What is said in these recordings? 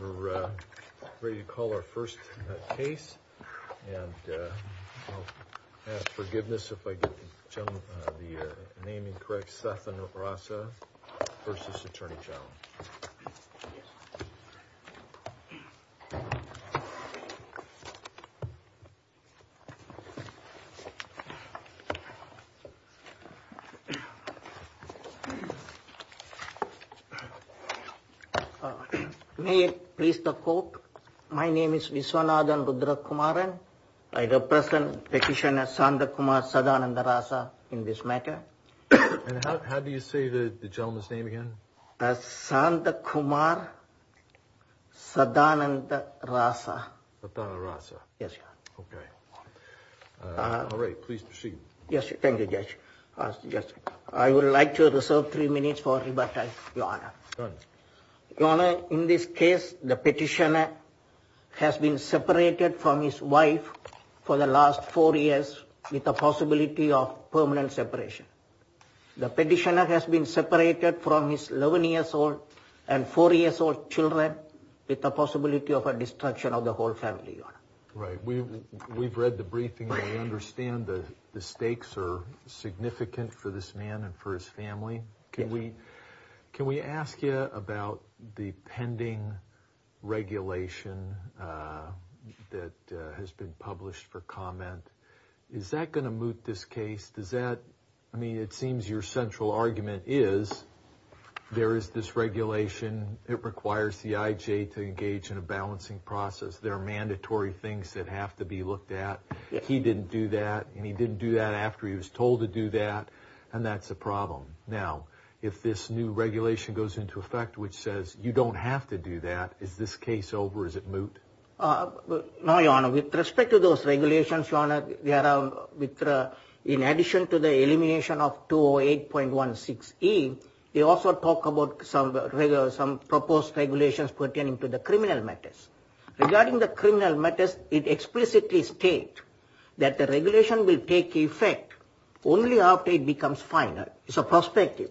We're ready to call our first case, and I'll ask forgiveness if I get the name incorrect, Sathanthrasa v. Atty Gen USA. Viswanathan Rudrakumaran May it please the court, my name is Viswanathan Rudrakumaran. I represent petitioner Santhakumar Sathanthrasa in this matter. And how do you say the gentleman's name again? Santhakumar Sathanthrasa. Sathanthrasa. Yes, Your Honor. Okay. All right, please proceed. Yes, thank you, Judge. I would like to reserve three minutes for rebuttal, Your Honor. Go ahead. Your Honor, in this case, the petitioner has been separated from his wife for the last four years with the possibility of permanent separation. The petitioner has been separated from his 11-year-old and 4-year-old children with the possibility of a destruction of the whole family, Your Honor. Right. We've read the briefing, and we understand the stakes are significant for this man and for his family. Can we ask you about the pending regulation that has been published for comment? Is that going to moot this case? Does that – I mean, it seems your central argument is there is this regulation. It requires the IJ to engage in a balancing process. There are mandatory things that have to be looked at. He didn't do that, and he didn't do that after he was told to do that, and that's a problem. Now, if this new regulation goes into effect, which says you don't have to do that, is this case over? Is it moot? No, Your Honor. With respect to those regulations, Your Honor, in addition to the elimination of 208.16E, they also talk about some proposed regulations pertaining to the criminal matters. Regarding the criminal matters, it explicitly states that the regulation will take effect only after it becomes final. It's a prospective.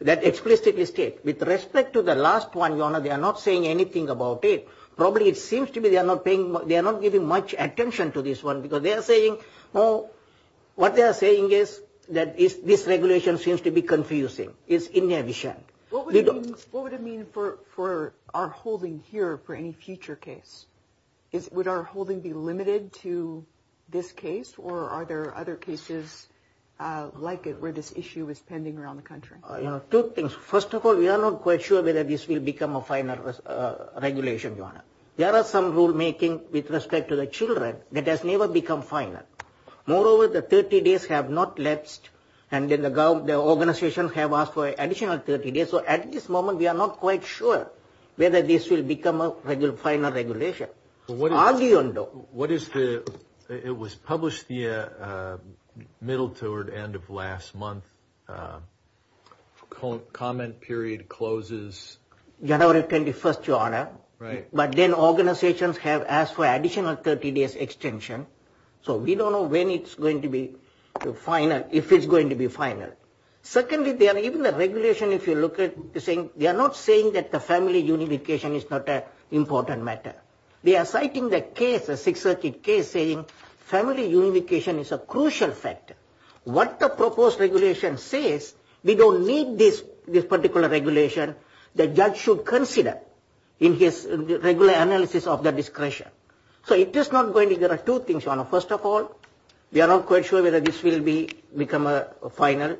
That explicitly states. With respect to the last one, Your Honor, they are not saying anything about it. Probably it seems to be they are not paying – they are not giving much attention to this one because they are saying – what they are saying is that this regulation seems to be confusing. It's inefficient. What would it mean for our holding here for any future case? Would our holding be limited to this case, or are there other cases like it where this issue is pending around the country? You know, two things. First of all, we are not quite sure whether this will become a final regulation, Your Honor. There are some rulemaking with respect to the children that has never become final. Moreover, the 30 days have not lapsed, and the organizations have asked for additional 30 days. So at this moment, we are not quite sure whether this will become a final regulation. What is the – it was published the middle toward end of last month. Comment period closes – January 21st, Your Honor. Right. But then organizations have asked for additional 30 days extension. So we don't know when it's going to be final, if it's going to be final. Secondly, even the regulation, if you look at – they are not saying that the family unification is not an important matter. They are citing the case, the Sixth Circuit case, saying family unification is a crucial factor. What the proposed regulation says, we don't need this particular regulation. The judge should consider in his regular analysis of the discretion. So it is not going to – there are two things, Your Honor. First of all, we are not quite sure whether this will become a final.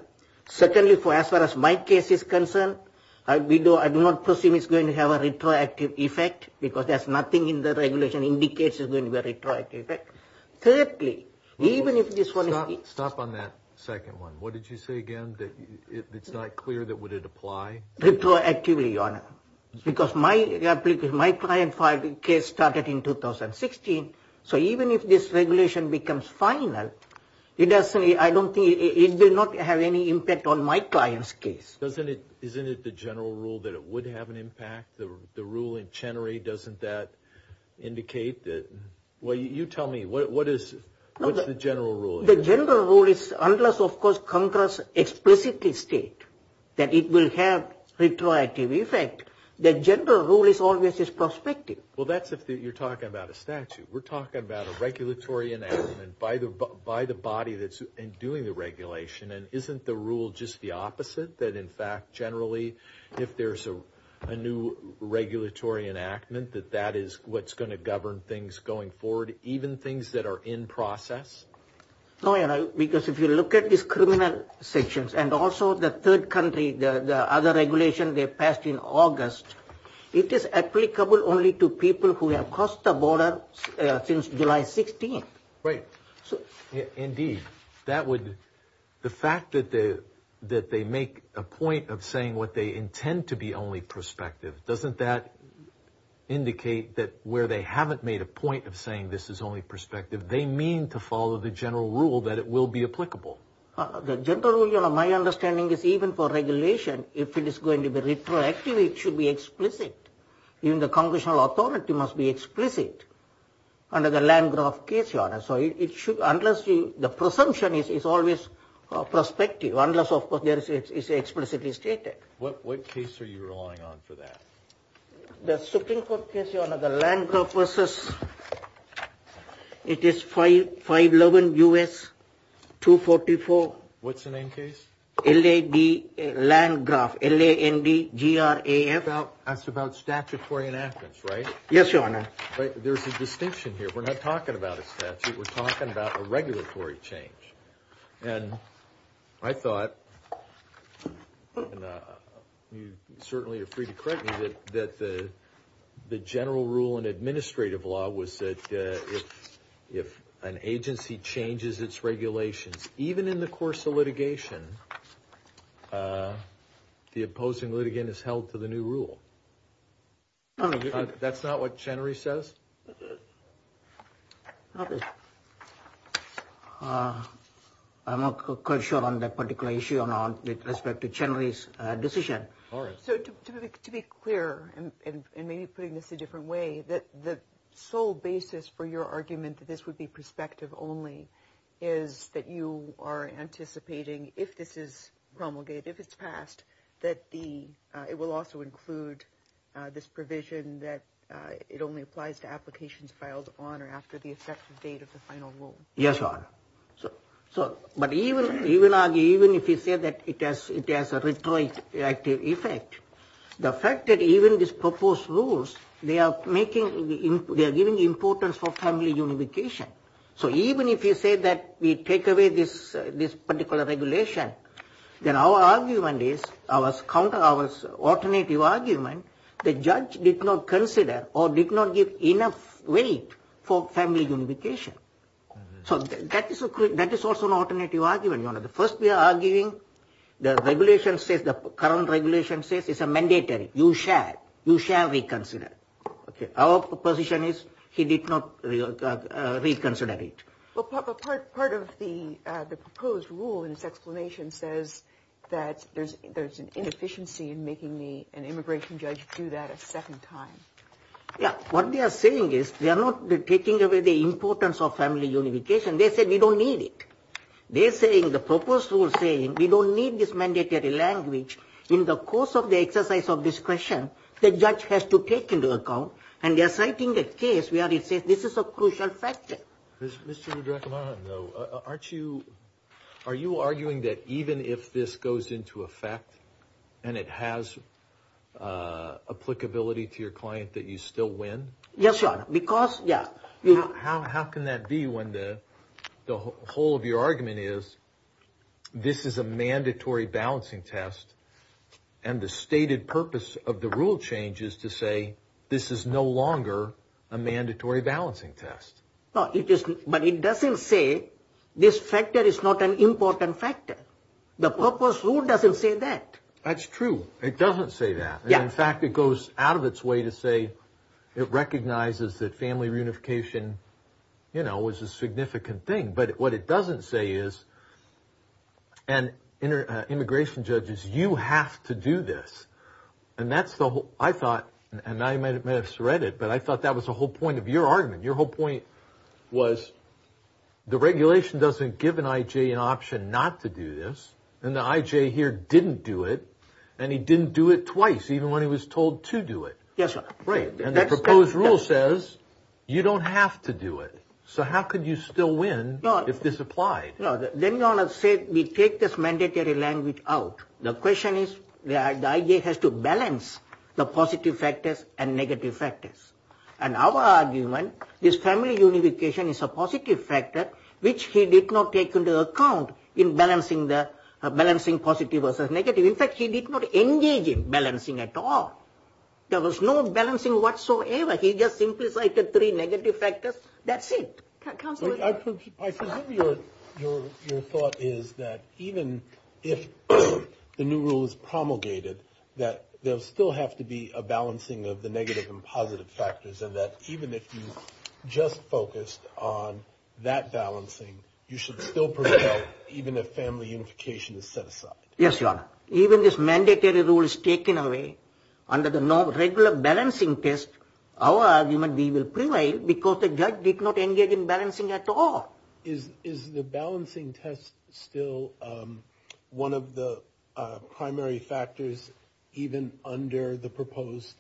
Secondly, as far as my case is concerned, I do not presume it's going to have a retroactive effect because there's nothing in the regulation indicates it's going to have a retroactive effect. Thirdly, even if this one is – Stop on that second one. What did you say again that it's not clear that would it apply? Retroactively, Your Honor, because my client filed the case started in 2016. So even if this regulation becomes final, it doesn't – I don't think it will not have any impact on my client's case. Isn't it the general rule that it would have an impact? The rule in Chenery, doesn't that indicate that – well, you tell me. What is the general rule? The general rule is unless, of course, Congress explicitly states that it will have retroactive effect, the general rule is always is prospective. Well, that's if you're talking about a statute. We're talking about a regulatory enactment by the body that's doing the regulation. And isn't the rule just the opposite, that, in fact, generally, if there's a new regulatory enactment, that that is what's going to govern things going forward, even things that are in process? No, Your Honor, because if you look at these criminal sections and also the third country, the other regulation they passed in August, it is applicable only to people who have crossed the border since July 16th. Right. Indeed. That would – the fact that they make a point of saying what they intend to be only prospective, doesn't that indicate that where they haven't made a point of saying this is only prospective, they mean to follow the general rule that it will be applicable? The general rule, Your Honor, my understanding is even for regulation, if it is going to be retroactive, it should be explicit. Even the congressional authority must be explicit under the Landgraf case, Your Honor. So it should – unless the presumption is always prospective, unless, of course, it's explicitly stated. What case are you relying on for that? The Supreme Court case, Your Honor, the Landgraf versus – it is 511 U.S. 244. What's the name case? L-A-N-D-G-R-A-F. It's about statutory enactments, right? Yes, Your Honor. There's a distinction here. We're not talking about a statute. We're talking about a regulatory change. And I thought – and you certainly are free to correct me – that the general rule in administrative law was that if an agency changes its regulations, even in the course of litigation, the opposing litigant is held to the new rule. That's not what Chenery says? I'm not quite sure on that particular issue, Your Honor, with respect to Chenery's decision. So to be clear, and maybe putting this a different way, the sole basis for your argument that this would be prospective only is that you are anticipating, if this is promulgated, if it's passed, that it will also include this provision that it only applies to applications filed on or after the effective date of the final rule. Yes, Your Honor. But even if you say that it has a retroactive effect, the fact that even these proposed rules, they are giving importance for family unification. So even if you say that we take away this particular regulation, then our argument is, our counter, our alternative argument, the judge did not consider or did not give enough weight for family unification. So that is also an alternative argument, Your Honor. First, we are arguing the regulation says, the current regulation says it's a mandatory. You shall, you shall reconsider. Our position is he did not reconsider it. Well, part of the proposed rule in its explanation says that there's an inefficiency in making an immigration judge do that a second time. Yeah, what they are saying is they are not taking away the importance of family unification. They said we don't need it. They are saying the proposed rule is saying we don't need this mandatory language. In the course of the exercise of discretion, the judge has to take into account and they are citing the case where it says this is a crucial factor. Mr. Rudrakumaran, though, aren't you, are you arguing that even if this goes into effect and it has applicability to your client that you still win? Yes, Your Honor, because, yeah. How can that be when the whole of your argument is this is a mandatory balancing test and the stated purpose of the rule change is to say this is no longer a mandatory balancing test? No, it is, but it doesn't say this factor is not an important factor. The proposed rule doesn't say that. That's true. It doesn't say that. In fact, it goes out of its way to say it recognizes that family reunification, you know, is a significant thing, but what it doesn't say is, and immigration judges, you have to do this. And that's the whole, I thought, and I may have misread it, but I thought that was the whole point of your argument. Your whole point was the regulation doesn't give an I.J. an option not to do this, and the I.J. here didn't do it, and he didn't do it twice, even when he was told to do it. Yes, Your Honor. And the proposed rule says you don't have to do it. So how could you still win if this applied? Then, Your Honor, say we take this mandatory language out. The question is the I.J. has to balance the positive factors and negative factors. And our argument is family reunification is a positive factor, which he did not take into account in balancing positive versus negative. In fact, he did not engage in balancing at all. There was no balancing whatsoever. He just simplified the three negative factors. That's it. Counselor. I presume your thought is that even if the new rule is promulgated, that there will still have to be a balancing of the negative and positive factors, and that even if you just focused on that balancing, you should still prevail even if family unification is set aside. Yes, Your Honor. Even if this mandatory rule is taken away under the no regular balancing test, our argument will prevail because the judge did not engage in balancing at all. Is the balancing test still one of the primary factors even under the proposed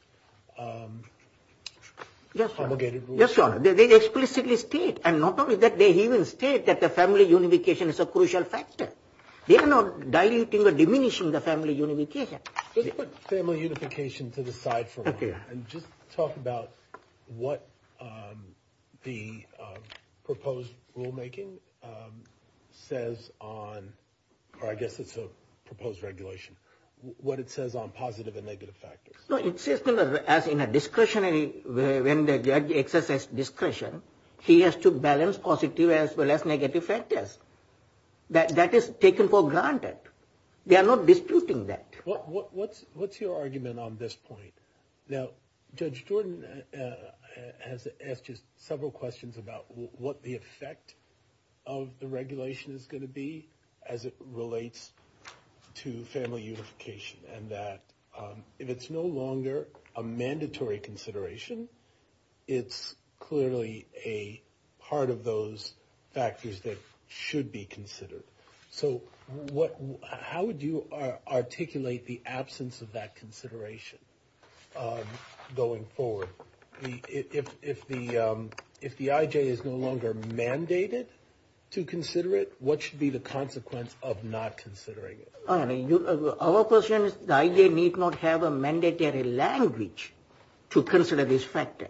promulgated rule? Yes, Your Honor. They explicitly state, and not only that, they even state that the family unification is a crucial factor. They are not diluting or diminishing the family unification. Let's put family unification to the side for a moment. And just talk about what the proposed rulemaking says on, or I guess it's a proposed regulation, what it says on positive and negative factors. It says as in a discretionary, when the judge exercises discretion, he has to balance positive as well as negative factors. That is taken for granted. They are not disputing that. What's your argument on this point? Now, Judge Jordan has asked just several questions about what the effect of the regulation is going to be as it relates to family unification. And that if it's no longer a mandatory consideration, it's clearly a part of those factors that should be considered. So how would you articulate the absence of that consideration going forward? If the I.J. is no longer mandated to consider it, what should be the consequence of not considering it? Our question is the I.J. need not have a mandatory language to consider this factor.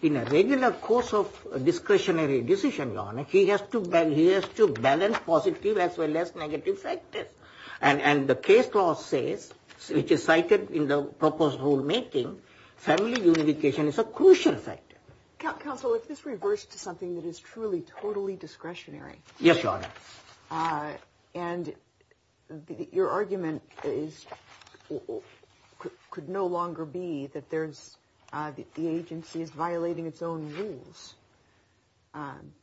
In a regular course of discretionary decision, Your Honor, he has to balance positive as well as negative factors. And the case law says, which is cited in the proposed rulemaking, family unification is a crucial factor. Counsel, if this reverts to something that is truly, totally discretionary. Yes, Your Honor. And your argument could no longer be that the agency is violating its own rules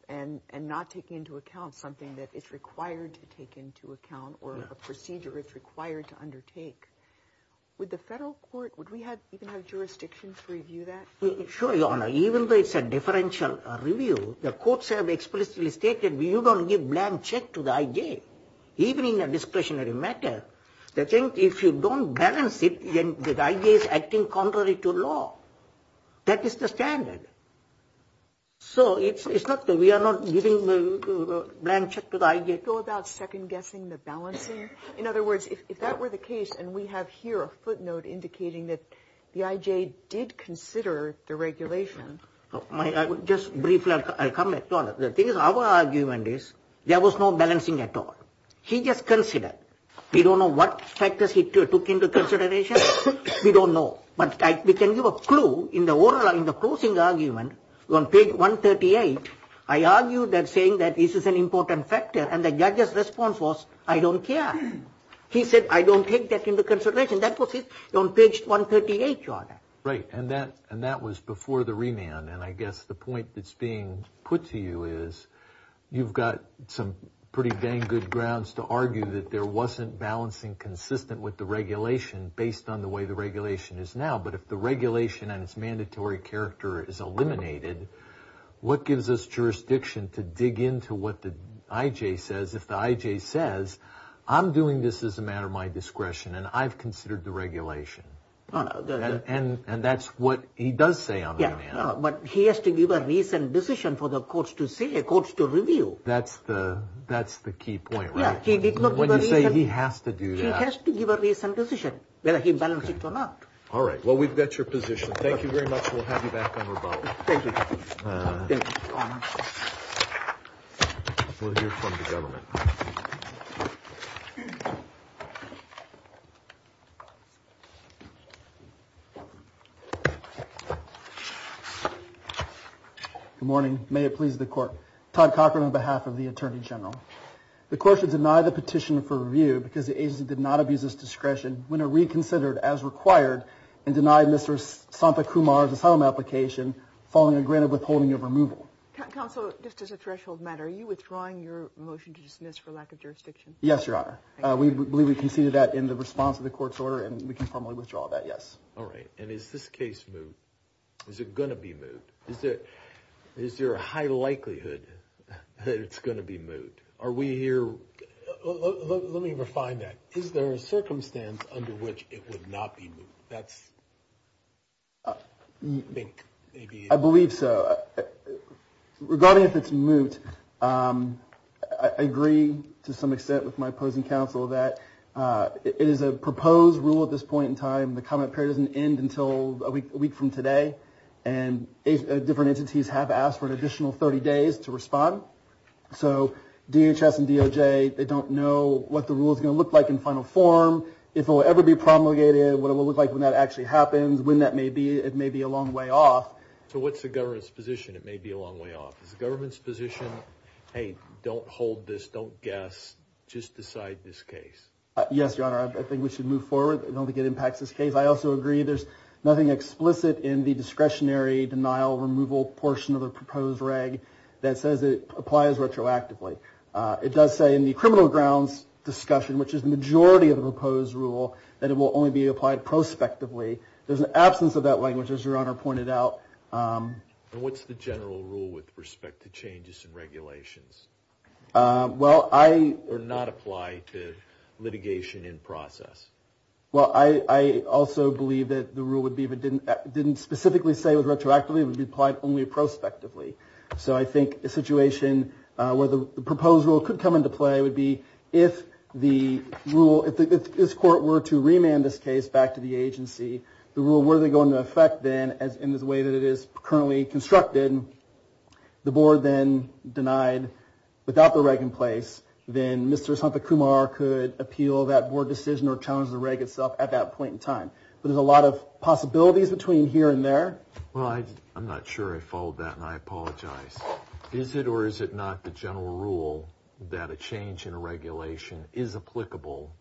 and not taking into account something that is required to take into account or a procedure it's required to undertake. Would the federal court, would we even have jurisdictions review that? Sure, Your Honor. Even though it's a differential review, the courts have explicitly stated, you don't give a blank check to the I.J., even in a discretionary matter. They think if you don't balance it, then the I.J. is acting contrary to law. That is the standard. So it's not that we are not giving a blank check to the I.J. Would you go about second-guessing the balancing? In other words, if that were the case, and we have here a footnote indicating that the I.J. did consider the regulation. Just briefly, I'll comment, Your Honor. The thing is, our argument is there was no balancing at all. He just considered. We don't know what factors he took into consideration. We don't know. But we can give a clue in the closing argument on page 138. I argue that saying that this is an important factor, and the judge's response was, I don't care. He said, I don't take that into consideration. That was on page 138, Your Honor. Right, and that was before the remand. And I guess the point that's being put to you is, you've got some pretty dang good grounds to argue that there wasn't balancing consistent with the regulation based on the way the regulation is now. But if the regulation and its mandatory character is eliminated, what gives us jurisdiction to dig into what the I.J. says? If the I.J. says, I'm doing this as a matter of my discretion, and I've considered the regulation. And that's what he does say on the remand. But he has to give a recent decision for the courts to say, the courts to review. That's the key point, right? Yeah. When you say he has to do that. He has to give a recent decision, whether he balanced it or not. All right. Well, we've got your position. Thank you very much. We'll have you back on rebuttal. Thank you. Thank you, Your Honor. We'll hear from the government. Good morning. May it please the court. Todd Cochran on behalf of the Attorney General. The court should deny the petition for review because the agency did not abuse its discretion when it reconsidered, as required, and denied Mr. Santakumar's asylum application following a granted withholding of removal. Counsel, just as a threshold matter, are you withdrawing your motion to dismiss for lack of jurisdiction? Yes, Your Honor. We believe we conceded that in response to the court's order, and we can formally withdraw that, yes. All right. And is this case moved? Is it going to be moved? Is there a high likelihood that it's going to be moved? Are we here? Let me refine that. Is there a circumstance under which it would not be moved? I believe so. Regarding if it's moved, I agree to some extent with my opposing counsel that it is a proposed rule at this point in time. The comment period doesn't end until a week from today, and different entities have asked for an additional 30 days to respond. So DHS and DOJ, they don't know what the rule is going to look like in final form, if it will ever be promulgated, what it will look like when that actually happens, when that may be. It may be a long way off. So what's the government's position it may be a long way off? Is the government's position, hey, don't hold this, don't guess, just decide this case? Yes, Your Honor. I think we should move forward. I don't think it impacts this case. I also agree there's nothing explicit in the discretionary denial removal portion of the proposed reg that says it applies retroactively. It does say in the criminal grounds discussion, which is the majority of the proposed rule, that it will only be applied prospectively. There's an absence of that language, as Your Honor pointed out. And what's the general rule with respect to changes in regulations? Well, I- Or not apply to litigation in process. Well, I also believe that the rule would be if it didn't specifically say it was retroactively, it would be applied only prospectively. So I think a situation where the proposed rule could come into play would be if the rule, if this court were to remand this case back to the agency, the rule were to go into effect then in the way that it is currently constructed, the board then denied without the reg in place, then Mr. Santacumar could appeal that board decision or challenge the reg itself at that point in time. But there's a lot of possibilities between here and there. Well, I'm not sure I followed that, and I apologize. Is it or is it not the general rule that a change in regulation is applicable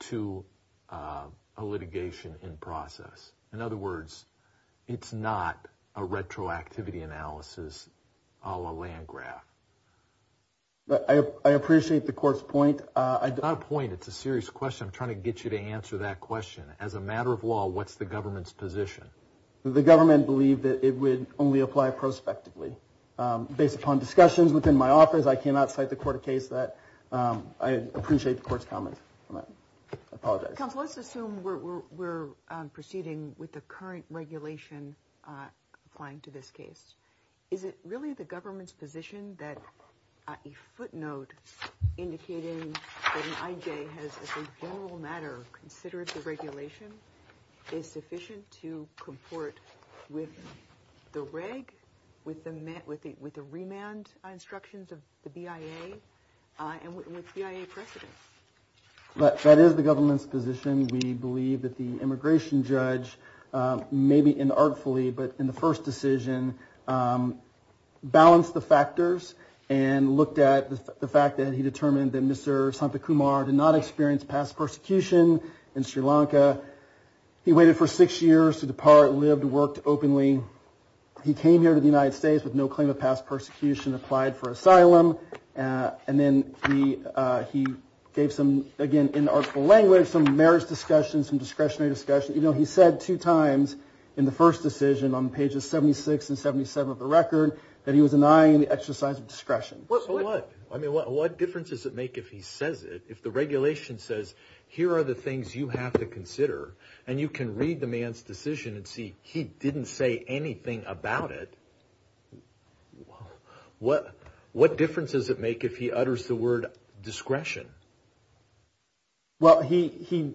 to a litigation in process? In other words, it's not a retroactivity analysis a la Landgraf? I appreciate the court's point. It's not a point, it's a serious question. I'm trying to get you to answer that question. As a matter of law, what's the government's position? The government believed that it would only apply prospectively. Based upon discussions within my office, I cannot cite the court a case that I appreciate the court's comment on that. I apologize. Counsel, let's assume we're proceeding with the current regulation applying to this case. Is it really the government's position that a footnote indicating that an IJ has, as a general matter, considered the regulation is sufficient to comport with the reg, with the remand instructions of the BIA, and with BIA precedent? That is the government's position. We believe that the immigration judge, maybe inartfully, but in the first decision, balanced the factors and looked at the fact that he determined that Mr. Santakumar did not experience past persecution in Sri Lanka. He waited for six years to depart, lived, worked openly. He came here to the United States with no claim of past persecution, applied for asylum. And then he gave some, again, inartful language, some marriage discussion, some discretionary discussion. You know, he said two times in the first decision on pages 76 and 77 of the record that he was denying the exercise of discretion. So what? I mean, what difference does it make if he says it, if the regulation says, here are the things you have to consider, and you can read the man's decision and see he didn't say anything about it. What difference does it make if he utters the word discretion? Well, he,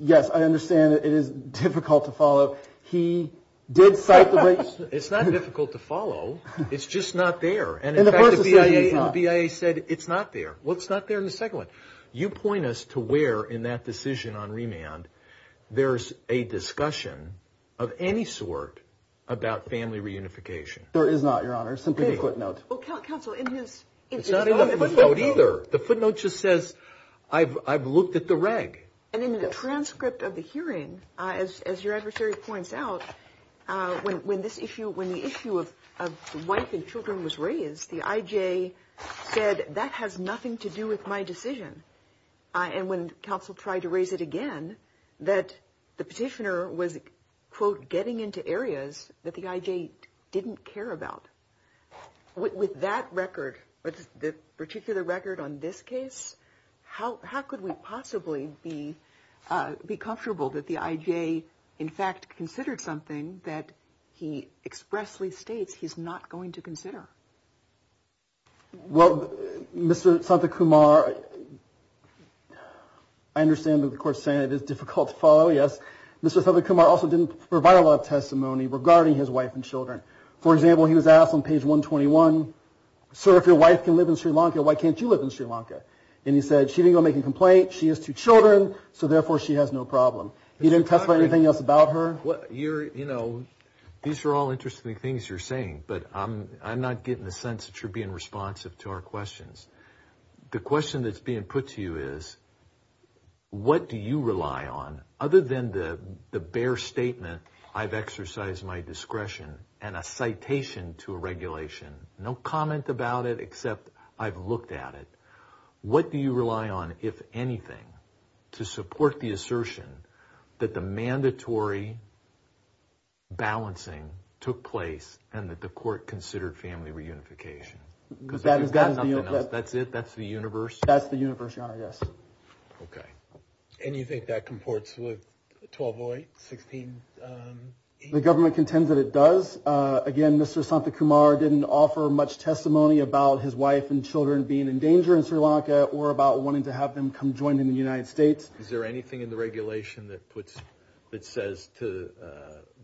yes, I understand that it is difficult to follow. He did cite the regs. It's not difficult to follow. It's just not there. And the BIA said it's not there. Well, it's not there in the second one. You point us to where in that decision on remand there's a discussion of any sort about family reunification. There is not, Your Honor. Simply the footnote. Well, counsel, in his. It's not in the footnote either. The footnote just says I've looked at the reg. And in the transcript of the hearing, as your adversary points out, when this issue, when the issue of wife and children was raised, the IJ said that has nothing to do with my decision. And when counsel tried to raise it again, that the petitioner was, quote, getting into areas that the IJ didn't care about. With that record, with the particular record on this case, how could we possibly be comfortable that the IJ, in fact, considered something that he expressly states he's not going to consider? Well, Mr. Santakumar, I understand that the court's saying it is difficult to follow. Yes. Mr. Santakumar also didn't provide a lot of testimony regarding his wife and children. For example, he was asked on page 121, sir, if your wife can live in Sri Lanka, why can't you live in Sri Lanka? And he said she didn't go make a complaint. She has two children. So, therefore, she has no problem. You didn't testify anything else about her? You're, you know, these are all interesting things you're saying, but I'm not getting the sense that you're being responsive to our questions. The question that's being put to you is, what do you rely on? Other than the bare statement, I've exercised my discretion, and a citation to a regulation. No comment about it except I've looked at it. What do you rely on, if anything, to support the assertion that the mandatory balancing took place and that the court considered family reunification? Because if you've got nothing else, that's it? That's the universe? That's the universe, Your Honor, yes. Okay. And you think that comports with 1208? The government contends that it does. Again, Mr. Santakumar didn't offer much testimony about his wife and children being in danger in Sri Lanka or about wanting to have them come join him in the United States. Is there anything in the regulation that says to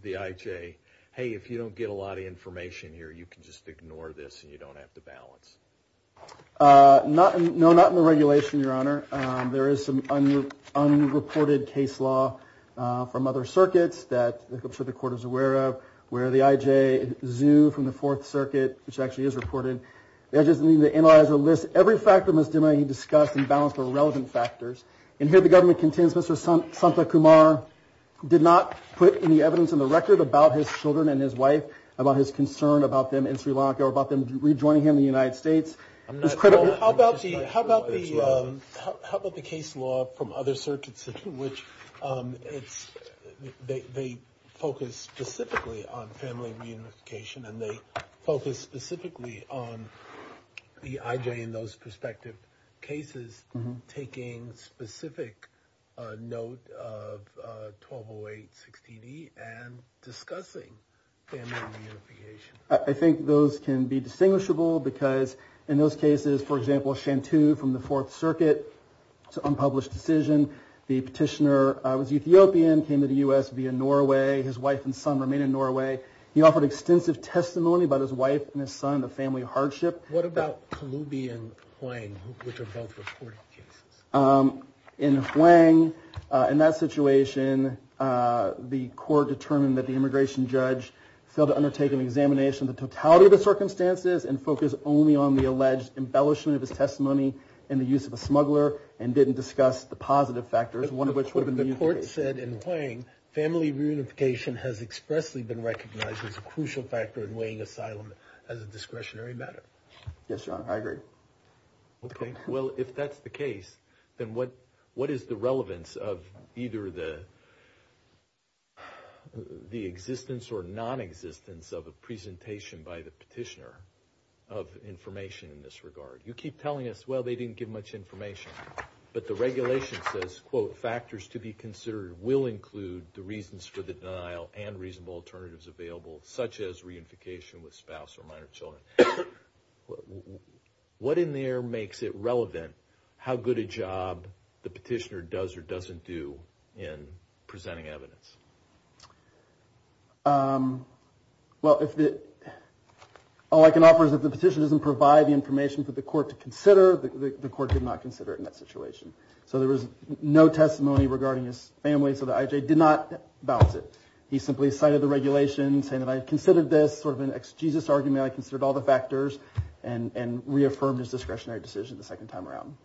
the IJ, hey, if you don't get a lot of information here, you can just ignore this and you don't have to balance? No, not in the regulation, Your Honor. There is some unreported case law from other circuits that I'm sure the court is aware of where the IJ, ZHU from the Fourth Circuit, which actually is reported, the IJ doesn't need to analyze the list. Every factor must be discussed and balanced for relevant factors. And here the government contends Mr. Santakumar did not put any evidence on the record about his children and his wife, about his concern about them in Sri Lanka or about them rejoining him in the United States. How about the case law from other circuits which they focus specifically on family reunification and they focus specifically on the IJ in those prospective cases taking specific note of 1208-60D and discussing family reunification? I think those can be distinguishable because in those cases, for example, Santu from the Fourth Circuit, it's an unpublished decision. The petitioner was Ethiopian, came to the U.S. via Norway. His wife and son remain in Norway. He offered extensive testimony about his wife and his son, the family hardship. What about Kalubi and Huang, which are both reported cases? In Huang, in that situation, the court determined that the immigration judge failed to undertake an examination of the totality of the circumstances and focused only on the alleged embellishment of his testimony and the use of a smuggler and didn't discuss the positive factors, one of which would have been the U.S. case. The court said in Huang family reunification has expressly been recognized as a crucial factor in weighing asylum as a discretionary matter. Yes, Your Honor. I agree. Okay. Well, if that's the case, then what is the relevance of either the existence or nonexistence of a presentation by the petitioner of information in this regard? You keep telling us, well, they didn't give much information, but the regulation says, quote, factors to be considered will include the reasons for the denial and reasonable alternatives available, such as reunification with spouse or minor children. What in there makes it relevant how good a job the petitioner does or doesn't do in presenting evidence? Well, all I can offer is if the petitioner doesn't provide the information for the court to consider, the court did not consider it in that situation. So there was no testimony regarding his family, so the IJ did not balance it. He simply cited the regulation saying that I considered this sort of an exegesis argument, I considered all the factors and reaffirmed his discretionary decision the second time around.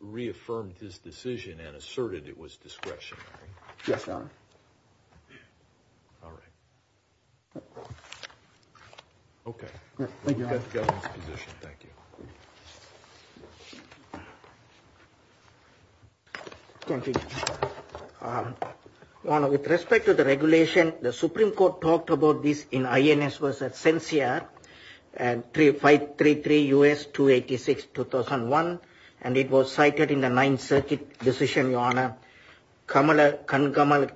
Reaffirmed his decision and asserted it was discretionary. Yes, Your Honor. All right. Okay. Thank you, Your Honor. We've got the government's position. Thank you. Thank you, Your Honor. Your Honor, with respect to the regulation, the Supreme Court talked about this in INS versus CENCIAR 533 U.S. 286, 2001, and it was cited in the Ninth Circuit decision, Your Honor, Kamala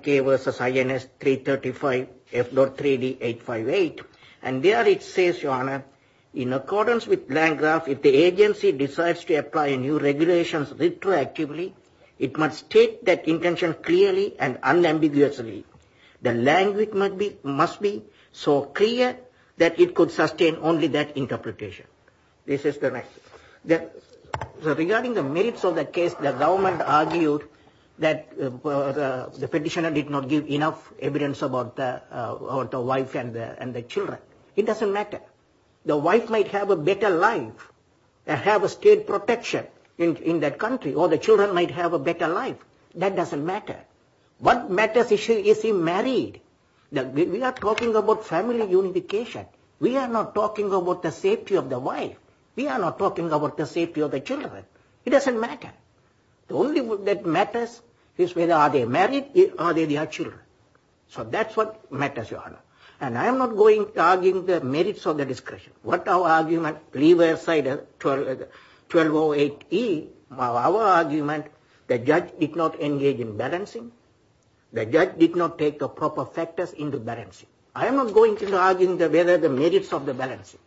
K versus INS 335 F.3D 858. And there it says, Your Honor, in accordance with Landgraf, if the agency decides to apply new regulations retroactively, it must take that intention clearly and unambiguously. The language must be so clear that it could sustain only that interpretation. This is the matter. Regarding the merits of the case, the government argued that the petitioner did not give enough evidence about the wife and the children. It doesn't matter. The wife might have a better life and have state protection in that country, or the children might have a better life. That doesn't matter. What matters is, is he married? We are talking about family unification. We are not talking about the safety of the wife. We are not talking about the safety of the children. It doesn't matter. The only thing that matters is whether they are married or they have children. So that's what matters, Your Honor. And I am not going to argue the merits or the discretion. Leave aside 1208E. Our argument, the judge did not engage in balancing. The judge did not take the proper factors into balancing. I am not going to argue whether the merits of the balancing.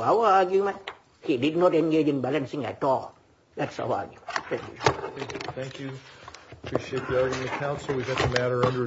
Our argument, he did not engage in balancing at all. That's our argument. Thank you. Thank you. Appreciate the argument, counsel. We've got the matter under adjournment.